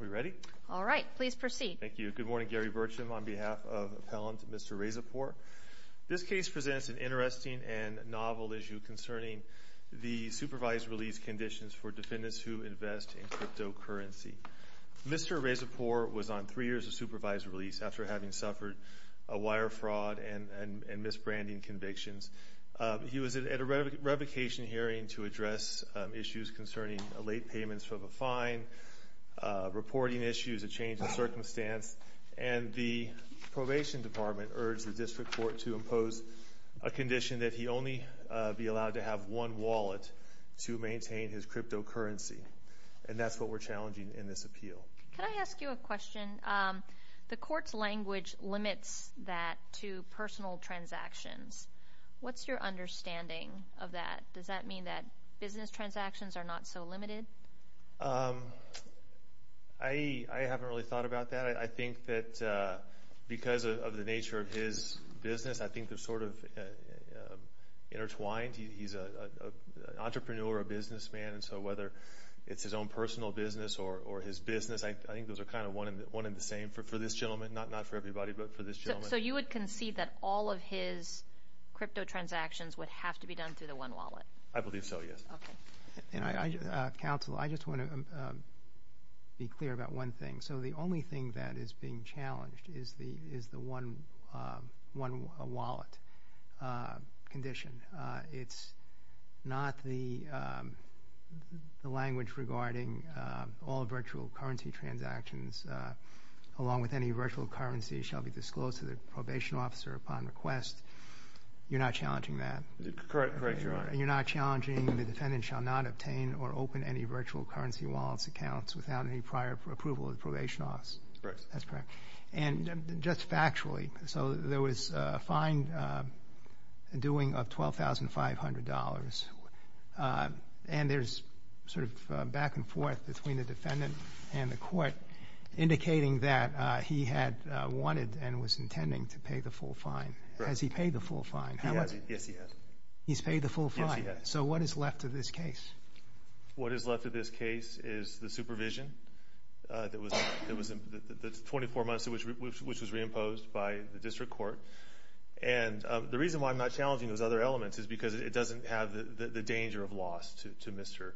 We ready? All right, please proceed. Thank you. Good morning, Gary Burcham. On behalf of appellant Mr. Rezapour, this case presents an interesting and novel issue concerning the supervised release conditions for defendants who invest in cryptocurrency. Mr. Rezapour was on three years of supervised release after having suffered a wire fraud and misbranding convictions. He was at a revocation hearing to address issues concerning late payments from a fine, reporting issues, a change in circumstance, and the probation department urged the district court to impose a condition that he only be allowed to have one wallet to maintain his cryptocurrency. And that's what we're challenging in this appeal. Can I ask you a question? The court's language limits that to personal transactions. What's your understanding of that? Does that mean that business transactions are not so limited? I haven't really thought about that. I think that because of the nature of his business, I think they're sort of intertwined. He's an entrepreneur, a businessman, and so whether it's his own personal business or his business, I think those are kind of one and the same for this gentleman. Not for everybody, but for this gentleman. So you would concede that all of his crypto transactions would have to be done through the one wallet? I believe so, yes. Okay. Counsel, I just want to be clear about one thing. So the only thing that is being challenged is the one wallet condition. It's not the language regarding all virtual currency transactions along with any virtual currency shall be disclosed to the probation officer upon request. You're not challenging that? Correct, Your Honor. You're not challenging the defendant shall not obtain or open any virtual currency wallets accounts without any prior approval of the probation office? Correct. That's correct. And just factually, so there was a fine dueing of $12,500 and there's sort of back and forth between the defendant and the court indicating that he had wanted and was intending to pay the full fine. Has he paid the full fine? Yes, he has. So what is left of this case? What is left of this case is the supervision that's 24 months which was re-imposed by the district court. And the reason why I'm not challenging those other elements is because it doesn't have the danger of loss to Mr.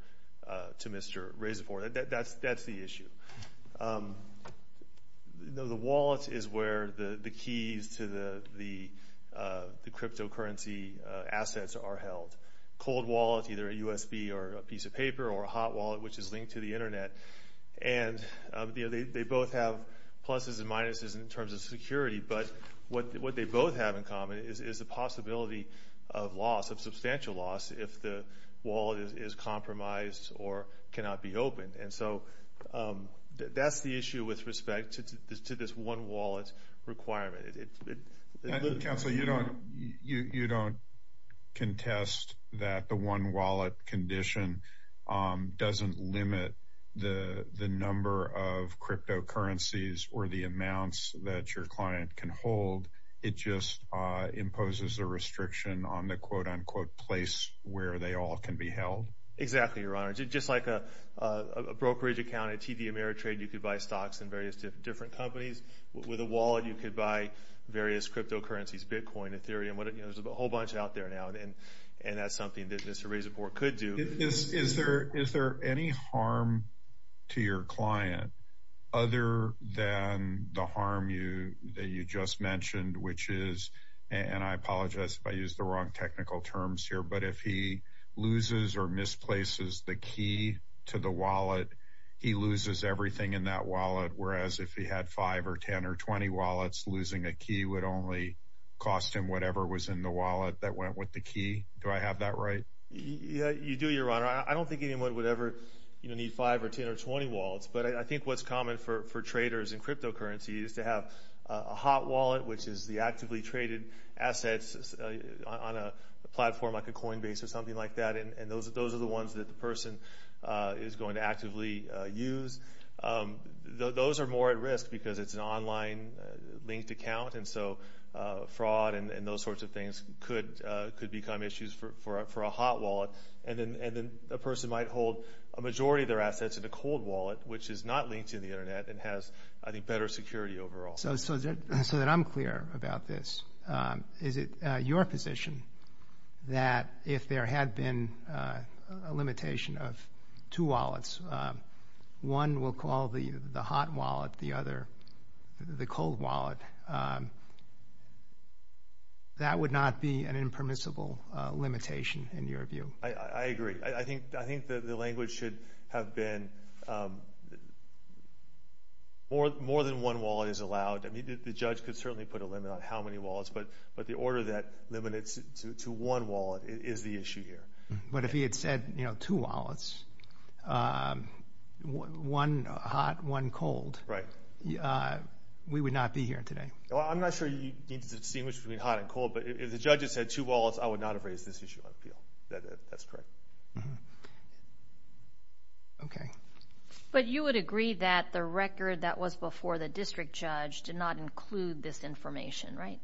Razifor. That's the issue. The wallet is where the keys to the cryptocurrency assets are held. Cold wallet, either a USB or a piece of paper or a hot wallet which is linked to the internet. And they both have pluses and minuses in terms of security, but what they both have in common is the possibility of loss, of substantial loss if the wallet is compromised or cannot be opened. And so that's the issue with respect to this one wallet requirement. Counsel, you don't contest that the one wallet condition doesn't limit the number of cryptocurrencies or the amounts that your client can hold. It just imposes a restriction on the quote-unquote place where they all can be held. Exactly, Your Honor. Just like a brokerage account, a TV with different companies, with a wallet you could buy various cryptocurrencies, Bitcoin, Ethereum, there's a whole bunch out there now. And that's something that Mr. Razifor could do. Is there any harm to your client other than the harm that you just mentioned, which is, and I apologize if I use the wrong technical terms here, but if he loses or misplaces the key to the wallet, he loses everything in that wallet, whereas if he had 5 or 10 or 20 wallets losing a key would only cost him whatever was in the wallet that went with the key. Do I have that right? You do, Your Honor. I don't think anyone would ever need 5 or 10 or 20 wallets, but I think what's common for traders in cryptocurrency is to have a hot wallet, which is the actively traded assets on a platform like a Coinbase or something like that, and those are the ones that the person is going to actively use. Those are more at risk because it's an online linked account, and so fraud and those sorts of things could become issues for a hot wallet. And then a person might hold a majority of their assets in a cold wallet, which is not linked to the Internet and has, I think, better security overall. So that I'm clear about this, is it your position that if there had been a limitation of two wallets, one will call the hot wallet, the other the cold wallet, that would not be an impermissible limitation in your view? I agree. I think the language should have been more than one wallet is allowed. I mean, the judge could certainly put a limit on how many wallets, but the order that limits to one wallet is the issue here. But if he had said two wallets, one hot, one cold, we would not be here today. I'm not sure you need to distinguish between hot and cold, but if the judge had said two wallets, I would not have raised this issue on appeal. That's correct. But you would agree that the record that was before the district judge did not include this information, right?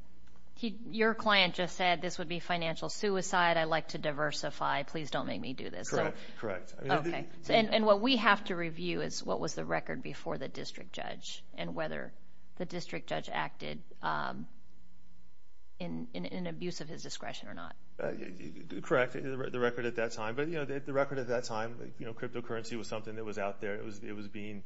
Your client just said, this would be financial suicide. I like to diversify. Please don't make me do this. Correct. And what we have to review is what was the record before the district judge and whether the district judge acted in abuse of his discretion or not. Correct. The record at that time. But the record at that time, cryptocurrency was something that was out there. It was being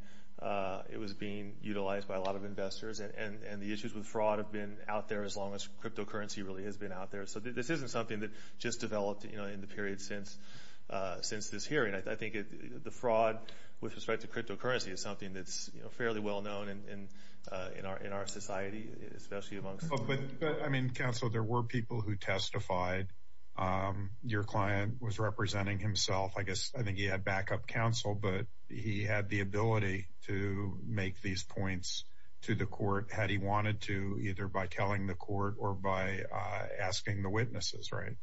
utilized by a lot of investors, and the issues with fraud have been out there as long as cryptocurrency really has been out there. So this isn't something that just developed in the period since this hearing. I think the fraud with respect to cryptocurrency is something that's fairly well known in our society, especially amongst... But, counsel, there were people who testified. Your client was representing himself. I think he had backup counsel, but he had the ability to make these points to the district judge by telling the court or by asking the witnesses, right?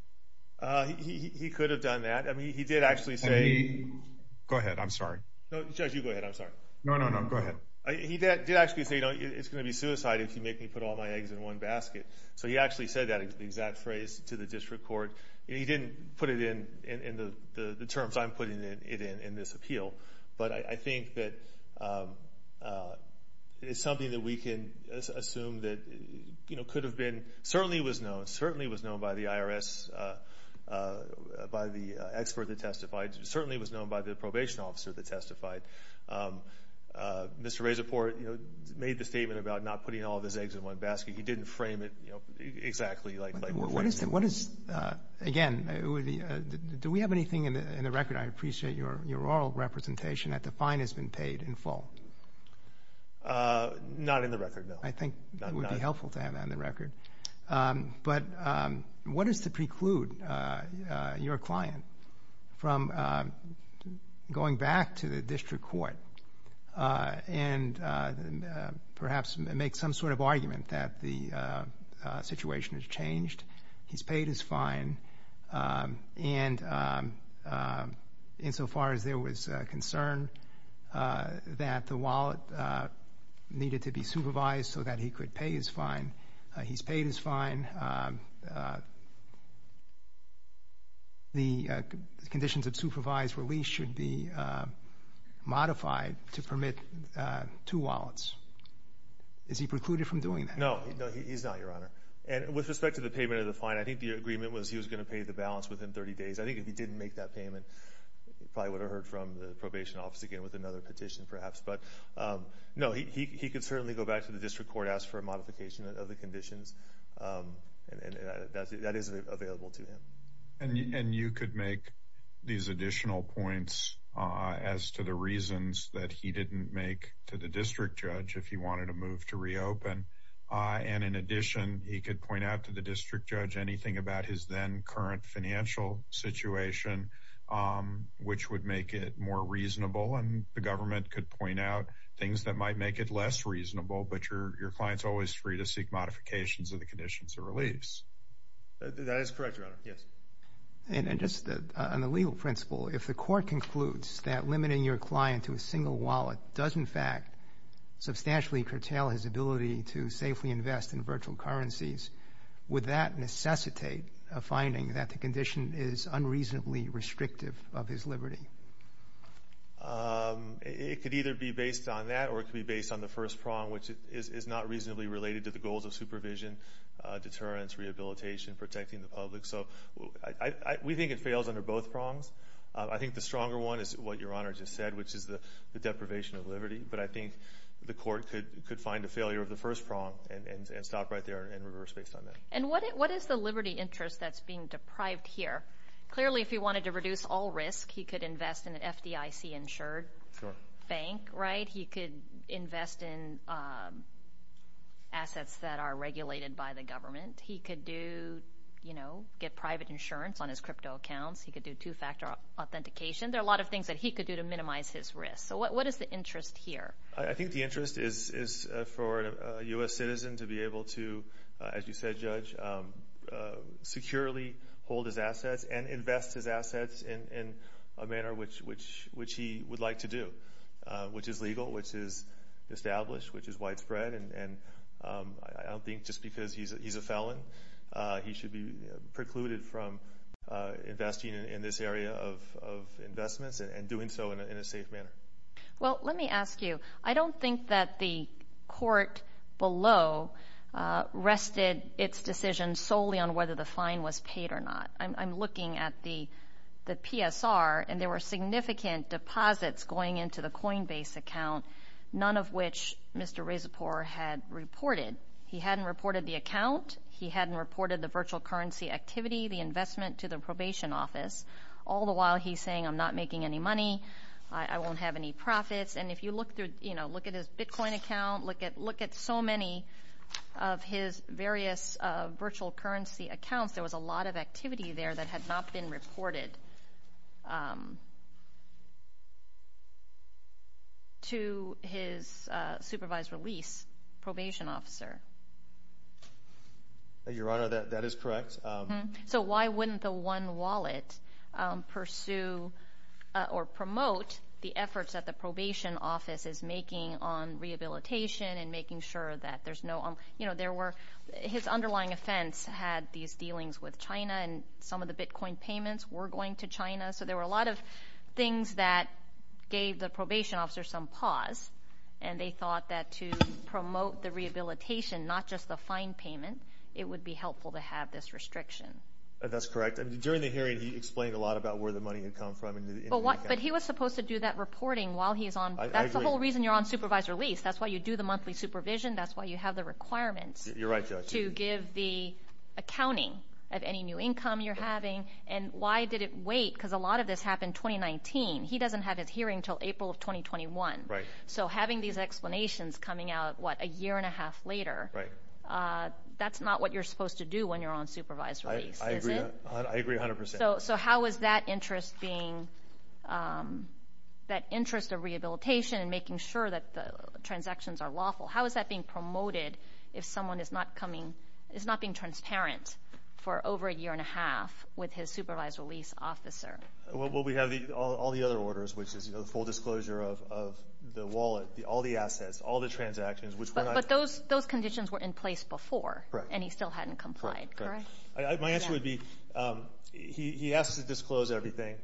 He could have done that. He did actually say... Go ahead. I'm sorry. Judge, you go ahead. I'm sorry. No, no, no. Go ahead. He did actually say, it's going to be suicide if you make me put all my eggs in one basket. So he actually said that exact phrase to the district court. He didn't put it in the terms I'm putting it in in this appeal. But I think that it's something that we can assume that could have been... Certainly was known. Certainly was known by the IRS, by the expert that testified. Certainly was known by the probation officer that testified. Mr. Razaport made the statement about not putting all of his eggs in one basket. He didn't frame it exactly like... Again, do we have anything in the record? I appreciate your oral representation that the fine has been paid in full. Not in the record, no. I think it would be helpful to have that in the record. But what is to preclude your client from going back to the district court and perhaps make some sort of argument that the situation has changed, he's paid his fine, and insofar as there was concern that the wallet needed to be supervised so that he could pay his fine, he's paid his fine, the conditions of supervised release should be modified to permit two wallets. Is he precluded from doing that? No, he's not, Your Honor. And with respect to the payment of the fine, I think the agreement was he was going to pay the balance within 30 days. I think if he didn't make that payment, he probably would have heard from the probation office again with another petition perhaps. But no, he could certainly go back to the district court, ask for a modification of the conditions. That is available to him. And you could make these additional points as to the reasons that he didn't make to the district judge if he wanted a move to reopen. And in addition, he could point out to the district judge anything about his then current financial situation which would make it more reasonable and the government could point out things that might make it less reasonable but your client's always free to seek modifications of the conditions of release. That is correct, Your Honor. Yes. And just on the legal principle, if the court concludes that limiting your client to a single wallet does in fact substantially curtail his ability to safely invest in virtual currencies, would that necessitate a finding that the condition is unreasonably restrictive of his liberty? It could either be based on that or it could be based on the first prong, which is not reasonably related to the goals of supervision, deterrence, rehabilitation, protecting the public. So we think it fails under both prongs. I think the stronger one is what Your Honor just said, which is the deprivation of liberty. But I think the court could find a failure of the first prong and stop right there and reverse based on that. And what is the liberty interest that's being deprived here? Clearly if he wanted to reduce all risk, he could invest in an FDIC insured bank, right? He could invest in assets that are regulated by the government. He could do you know, get private insurance on his crypto accounts. He could do two-factor authentication. There are a lot of things that he could do to minimize his risk. So what is the liberty interest of a citizen to be able to, as you said Judge, securely hold his assets and invest his assets in a manner which he would like to do, which is legal, which is established, which is widespread. And I don't think just because he's a felon, he should be precluded from investing in this area of investments and doing so in a safe manner. Well, let me ask you. I don't think that the court below rested its decision solely on whether the fine was paid or not. I'm looking at the PSR, and there were significant deposits going into the Coinbase account, none of which Mr. Resipore had reported. He hadn't reported the account. He hadn't reported the virtual currency activity, the investment to the probation office. All the while he's saying, I'm not making any money. I won't have any profits. And if you look at his Bitcoin account, look at so many of his various virtual currency accounts, there was a lot of activity there that had not been reported to his supervised release probation officer. Your Honor, that is correct. So why wouldn't the One Wallet pursue or promote the efforts that the probation office is making on rehabilitation and making sure that there's no... His underlying offense had these dealings with China, and some of the Bitcoin payments were going to China. So there were a lot of things that gave the probation officer some pause, and they thought that to promote the rehabilitation, not just the fine payment, it would be helpful to have this restriction. That's correct. During the hearing, he explained a lot about where the money had come from. But he was supposed to do that reporting while he's on... I agree. That's the whole reason you're on supervised release. That's why you do the monthly supervision. That's why you have the requirements to give the accounting of any new income you're having. And why did it wait? Because a lot of this happened in 2019. He doesn't have his hearing until April of 2021. Right. So having these explanations coming out, what, a year and a half later, that's not what you're supposed to do when you're on supervised release, is it? I agree 100%. So how is that interest of rehabilitation and making sure that the transactions are lawful, how is that being promoted if someone is not being transparent for over a year and a half with his supervised release officer? Well, we have all the other orders, which is the full disclosure of the wallet, all the assets, all the transactions, which were not... But those conditions were in place before, and he still hadn't complied, correct? My answer would be, he has to disclose everything.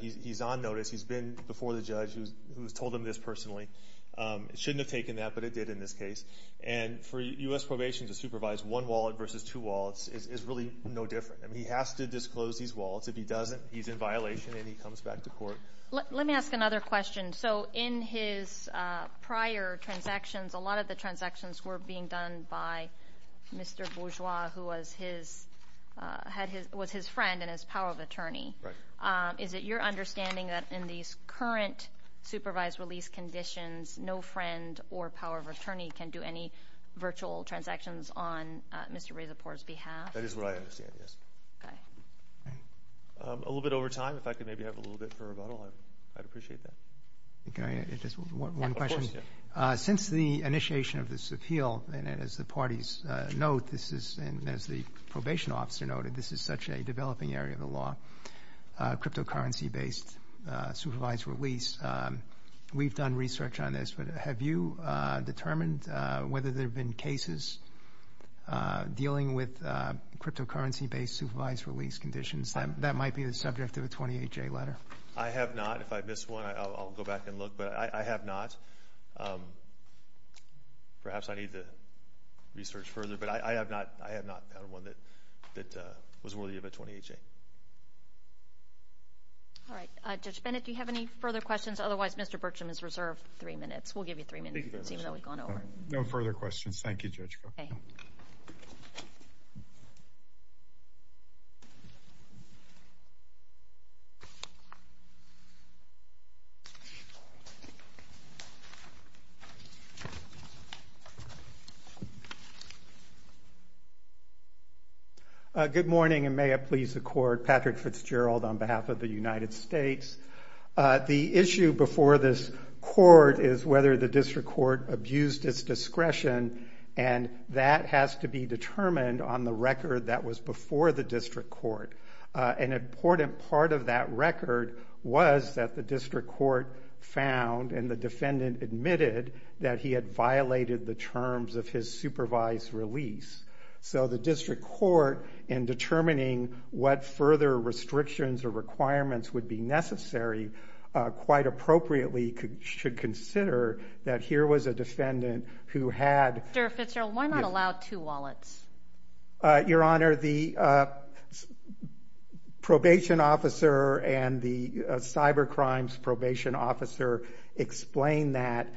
He's on notice. He's been before the judge who's told him this personally. It shouldn't have taken that, but it did in this case. And for U.S. Probation to supervise one wallet versus two wallets is really no different. He has to disclose these wallets. If he doesn't, he's in violation and he comes back to court. Let me ask another question. So in his prior transactions, a lot of the transactions were being done by Mr. Bourgeois, who was his friend and his power of attorney. Is it your understanding that in these current supervised release conditions, no friend or power of attorney can do any virtual transactions on Mr. Rizaport's behalf? That is what I understand, yes. A little bit over time, if I could maybe have a little bit for rebuttal, I'd appreciate that. One question. Since the initiation of this appeal, and as the parties note, and as the probation officer noted, this is such a developing area of the law, cryptocurrency-based supervised release. We've done research on this, but have you determined whether there have been cases dealing with cryptocurrency-based supervised release conditions? That might be the subject of a 28-J letter. I have not. If I miss one, I'll go back and look, but I have not. Perhaps I need to research further, but I have not found one that was worthy of a 28-J. All right. Judge Bennett, do you have any further questions? Otherwise, Mr. Berksham is reserved three minutes. We'll give you three minutes even though we've gone over. No further questions. Thank you, Judge. Good morning, and may it please the Court. Patrick Fitzgerald on behalf of the United States. The issue before this Court is whether the District Court abused its discretion, and that has to be determined on the record that was before the District Court. An important part of that record was that the District Court found, and the defendant admitted, that he had violated the terms of his supervised release. So the District Court, in determining what further restrictions or requirements would be necessary, quite appropriately should consider that here was a defendant who had... Mr. Fitzgerald, why not allow two wallets? Your Honor, the probation officer and the cybercrimes probation officer explain that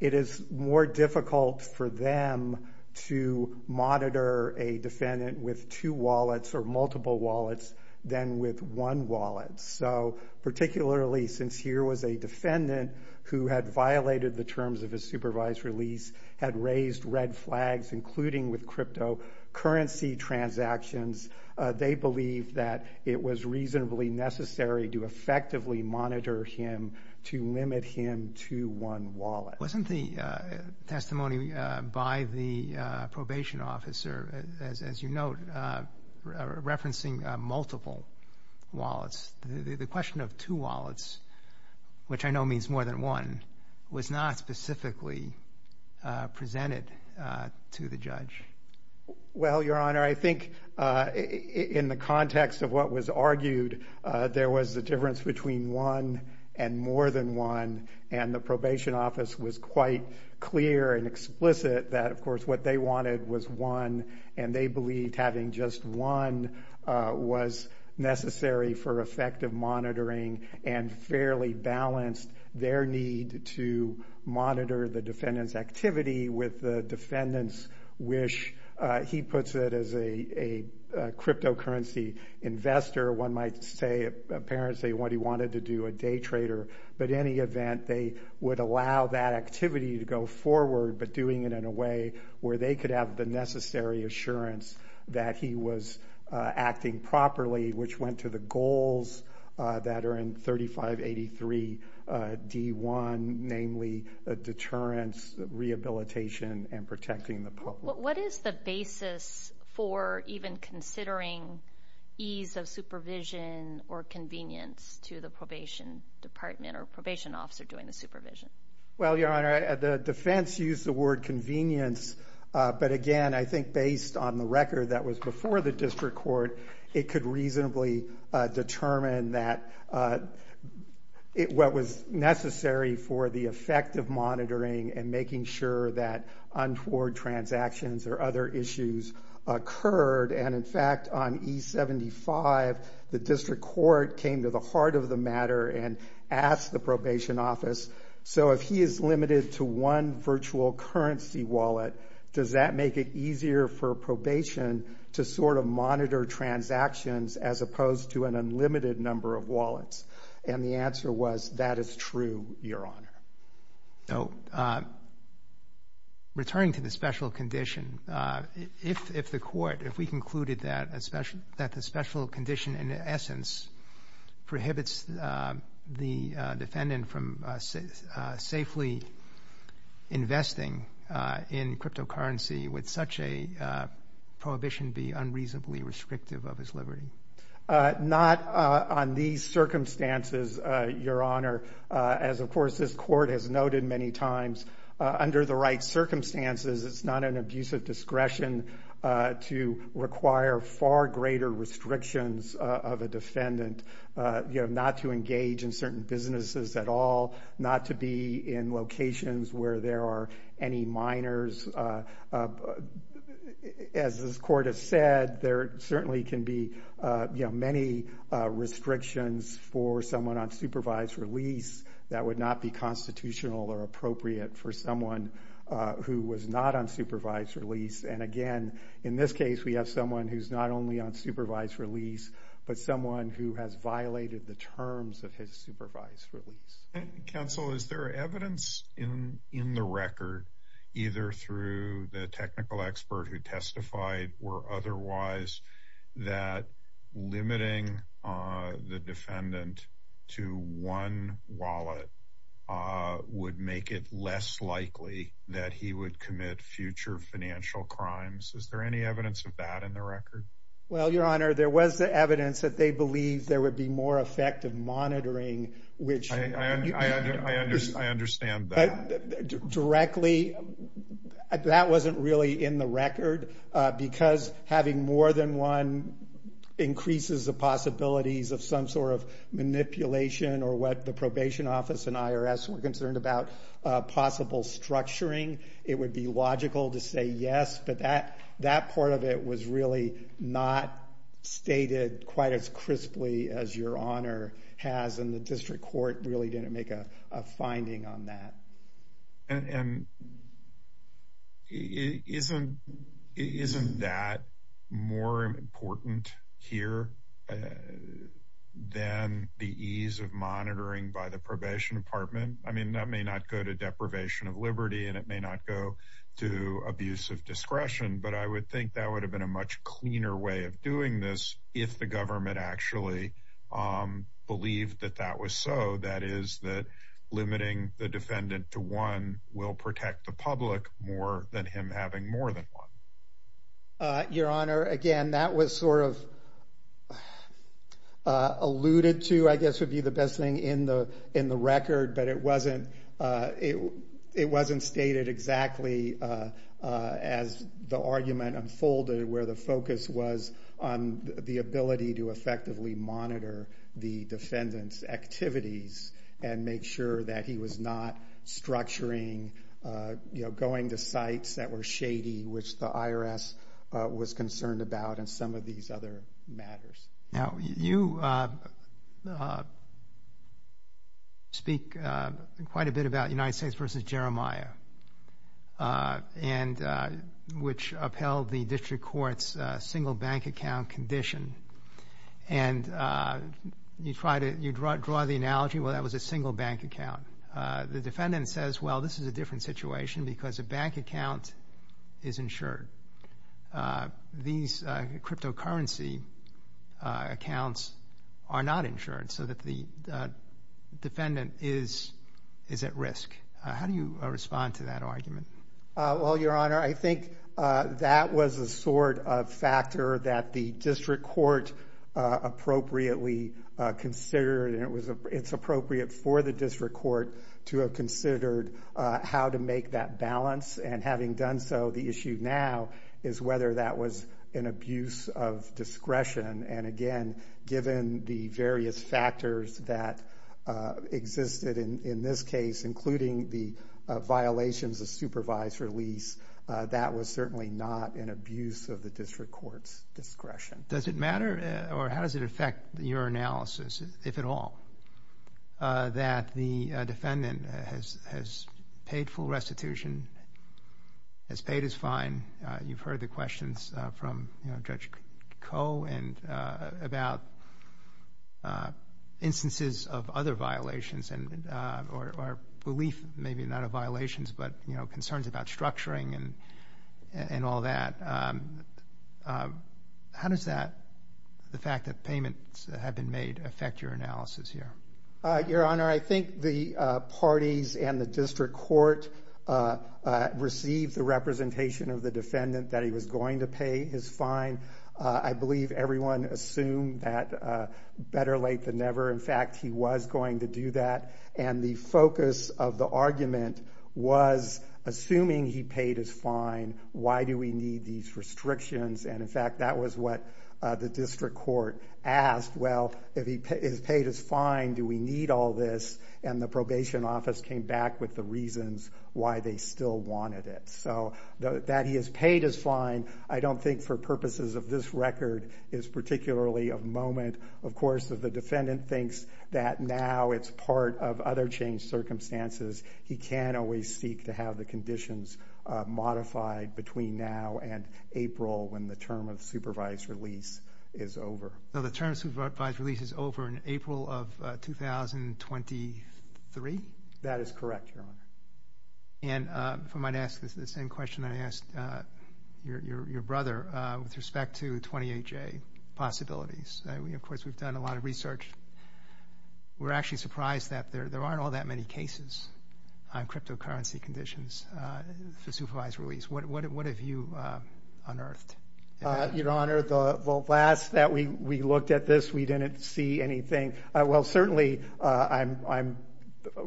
it is more difficult for them to monitor a defendant with two wallets or multiple wallets than with one wallet. So particularly since here was a defendant who had violated the terms of his supervised release, had raised red flags, including with cryptocurrency transactions, they believe that it was reasonably necessary to effectively monitor him to limit him to one wallet. Wasn't the testimony by the probation officer, as you note, referencing multiple wallets? The question of two wallets, which I know means more than one, was not specifically presented to the judge. Well, Your Honor, I think in the context of what was argued, there was a difference between one and more than one, and the probation office was quite clear and explicit that, of course, what they wanted was one, and they believed having just one was necessary for effective monitoring and fairly balanced their need to monitor the defendant's activity with the defendant's wish. He puts it as a cryptocurrency investor. One might say, apparently, what he wanted to do, a day trader. But in any event, they would allow that activity to go forward, but doing it in a way where they could have the necessary assurance that he was acting properly, which went to the goals that are in 3583 D1, namely deterrence, rehabilitation, and protecting the public. What is the basis for even considering ease of supervision or convenience to the probation department or probation officer doing the supervision? Well, Your Honor, the defense used the word convenience, but again, I think based on the record that was before the district court, it could reasonably determine that what was necessary for the effective monitoring and making sure that untoward transactions or other issues occurred. And in fact, on E-75, the district court came to the heart of the matter and asked the probation office, so if he is limited to one virtual currency wallet, does that make it easier for probation to sort of monitor transactions as opposed to an unlimited number of wallets? And the answer was, that is true, Your Honor. So, returning to the special condition, if the court, if we concluded that the special condition in essence prohibits the defendant from safely investing in cryptocurrency, would such a prohibition be unreasonably restrictive of his liberty? Not on these circumstances, Your Honor, as of course this court has noted many times, under the right circumstances, it's not an abusive discretion to require far greater restrictions of a defendant not to engage in certain businesses at all, not to be in locations where there are any minors. As this court has said, there certainly can be many restrictions for someone on supervised release that would not be constitutional or appropriate for someone who was not on supervised release, and again, in this case, we have someone who's not only on supervised release, but someone who has violated the terms of his supervised release. Counsel, is there evidence in the record, either through the technical expert who testified, or otherwise, that putting a defendant to one wallet would make it less likely that he would commit future financial crimes? Is there any evidence of that in the record? Well, Your Honor, there was evidence that they believed there would be more effective monitoring, which... I understand that. Directly, that wasn't really in the record, because having more than one increases the possibilities of some sort of manipulation or what the probation office and IRS were concerned about possible structuring. It would be logical to say yes, but that part of it was really not stated quite as crisply as Your Honor has, and the district court really didn't make a finding on that. Isn't that more important here than the ease of monitoring by the probation department? I mean, that may not go to deprivation of liberty, and it may not go to abuse of discretion, but I would think that would have been a much cleaner way of doing this if the government actually believed that that was so, that is, that limiting the defendant to one will protect the public more than him having more than one. Your Honor, again, that was sort of alluded to, I guess, would be the best thing in the record, but it wasn't stated exactly as the argument unfolded, where the focus was on the ability to effectively monitor the defendant's activities and make sure that he was not structuring, you know, going to sites that were shady, which the IRS was concerned about and some of these other matters. Now, you speak quite a bit about United States v. Jeremiah, which upheld the district court's single bank account condition, and you draw the analogy, well, that was a single bank account. The defendant says, well, this is a different situation because a bank account is insured. These cryptocurrency accounts are not insured so that the defendant is at risk. How do you respond to that argument? Well, Your Honor, I think that was a sort of factor that the district court appropriately considered, and it was appropriate for the district court to have considered how to make that balance, and having done so, the issue now is whether that was an abuse of discretion, and again, given the various factors that existed in this case, including the violations of supervised release, that was certainly not an abuse of the district court's discretion. Does it matter, or how does it affect your analysis, if at all, that the defendant has paid full restitution, has paid his fine? You've heard the questions from Judge Koh about instances of other violations, or belief, maybe not of violations, but concerns about structuring and all that. How does that, the fact your analysis here? Your Honor, I think the parties and the district court received the representation of the defendant that he was going to pay his fine. I believe everyone assumed that better late than never. In fact, he was going to do that, and the focus of the argument was assuming he paid his fine, why do we need these restrictions, and in fact, that was what the district court asked. Well, if he's paid his fine, do we need all this? And the probation office came back with the reasons why they still wanted it. So, that he has paid his fine, I don't think for purposes of this record is particularly of moment. Of course, if the defendant thinks that now it's part of other changed circumstances, he can always seek to have the conditions modified between now and April, when the term of supervised release is over. So, the term of supervised release is over in April of 2023? That is correct, Your Honor. And if I might ask the same question I asked your brother with respect to 28J possibilities. Of course, we've done a lot of research. We're actually surprised that there aren't all that many cases on cryptocurrency conditions for supervised release. What have you unearthed? Your Honor, the last that we looked at this we didn't see anything. Well, certainly, of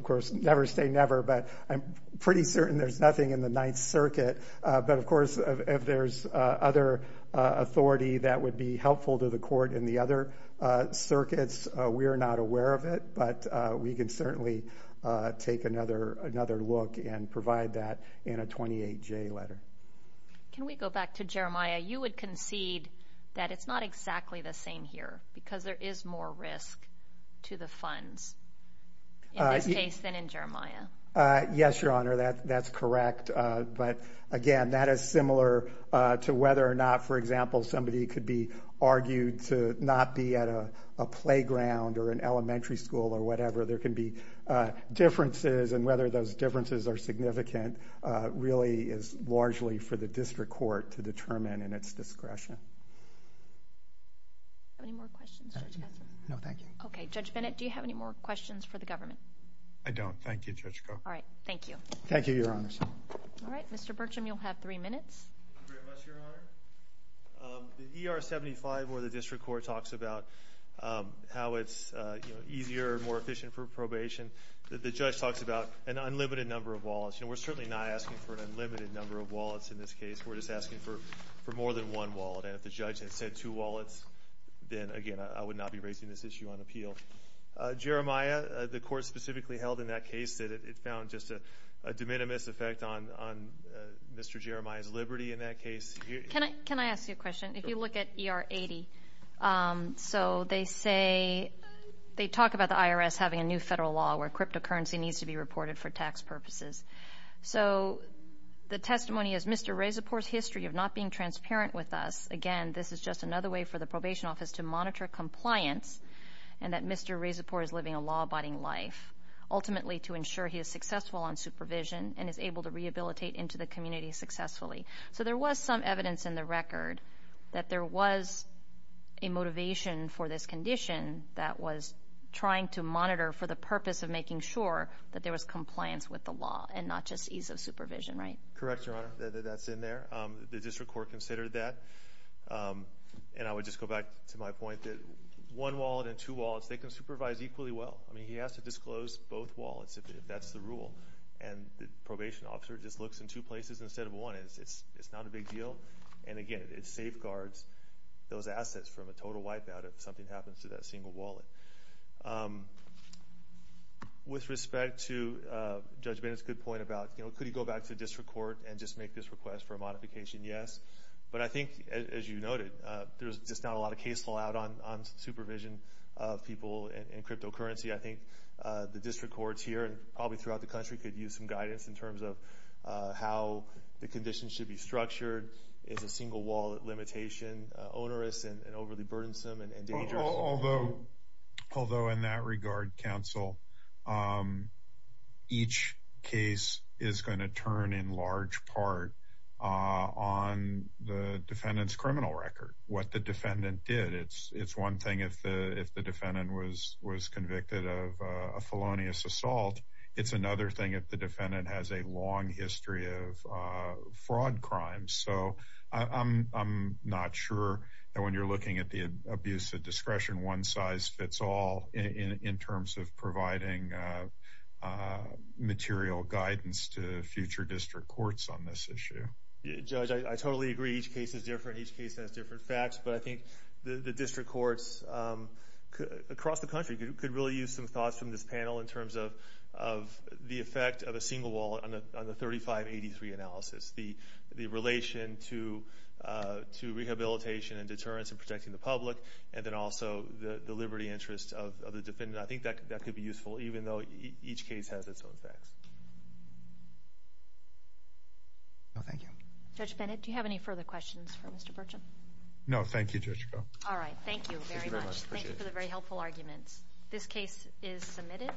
course, never say never, but I'm pretty certain there's nothing in the Ninth Circuit, but of course, if there's other authority that would be helpful to the court in the other circuits, we're not aware of it, but we can certainly take another look and provide that in a 28J letter. Can we go back to Jeremiah? You would concede that it's not exactly the same here, because there is more risk to the funds in this case than in Jeremiah. Yes, Your Honor, that's correct, but again, that is similar to whether or not, for example, somebody could be argued to not be at a playground or an elementary school or whatever. There can be differences, and whether those differences are significant really is largely for the district court to determine in its discretion. Okay, Judge Bennett, do you have any more questions for the government? I don't. Thank you, Judge Koch. Thank you, Your Honor. Mr. Burcham, you'll have three minutes. The ER-75 where the district court talks about how it's easier, more efficient for probation, the judge talks about an unlimited number of wallets. We're certainly not asking for an unlimited number of wallets in this case. We're just asking for more than one wallet, and if the judge had said two wallets, then again, I would not be raising this issue on appeal. Jeremiah, the court specifically held in that case that it found just a de minimis effect on Mr. Jeremiah's liberty in that case. Can I ask you a question? If you look at ER-80, so they say, they talk about the IRS having a new federal law where cryptocurrency needs to be reported for tax purposes. The testimony is, Mr. Rezepor's history of not being transparent with us, again, this is just another way for the probation office to monitor compliance and that Mr. Rezepor is living a law-abiding life, ultimately to ensure he is successful on supervision and is able to rehabilitate into the community successfully. So there was some evidence in the record that there was a motivation for this condition that was trying to monitor for the purpose of making sure that there was compliance with the law and not just ease of supervision, right? Correct, Your Honor, that's in there. The district court considered that, and I would just go back to my point that one wallet and two wallets, they can supervise equally well. I mean, he has to disclose both wallets if that's the rule, and the probation officer just looks in two places instead of one. It's not a big deal, and again, it safeguards those assets from a total wipeout if something happens to that single wallet. With respect to Judge Bennett's good point about, you know, could he go back to district court and just make this request for a modification? Yes. But I think, as you noted, there's just not a lot of case law out on supervision of people in cryptocurrency. I think the district courts here and probably throughout the country could use some guidance in terms of how the conditions should be structured. Is a single wallet limitation onerous and overly burdensome and dangerous? Although in that regard, counsel, each case is going to turn in large part on the defendant's criminal record, what the defendant did. It's one thing if the defendant was convicted of a felonious assault. It's another thing if the defendant has a long history of fraud crimes. So I'm not sure that when you're looking at the abuse of discretion, one size fits all in terms of providing material guidance to future district courts on this issue. Judge, I totally agree. Each case is different. Each case has different facts. But I think the district courts across the country could really use some thoughts from this panel in terms of the effect of a single wallet on the 3583 analysis. The relation to rehabilitation and deterrence and protecting the public, and then also the liberty interest of the defendant. I think that could be useful, even though each case has its own facts. Judge Bennett, do you have any further questions for Mr. Burcham? No, thank you, Judge. Alright, thank you very much. Thank you for the very helpful arguments. This case is submitted.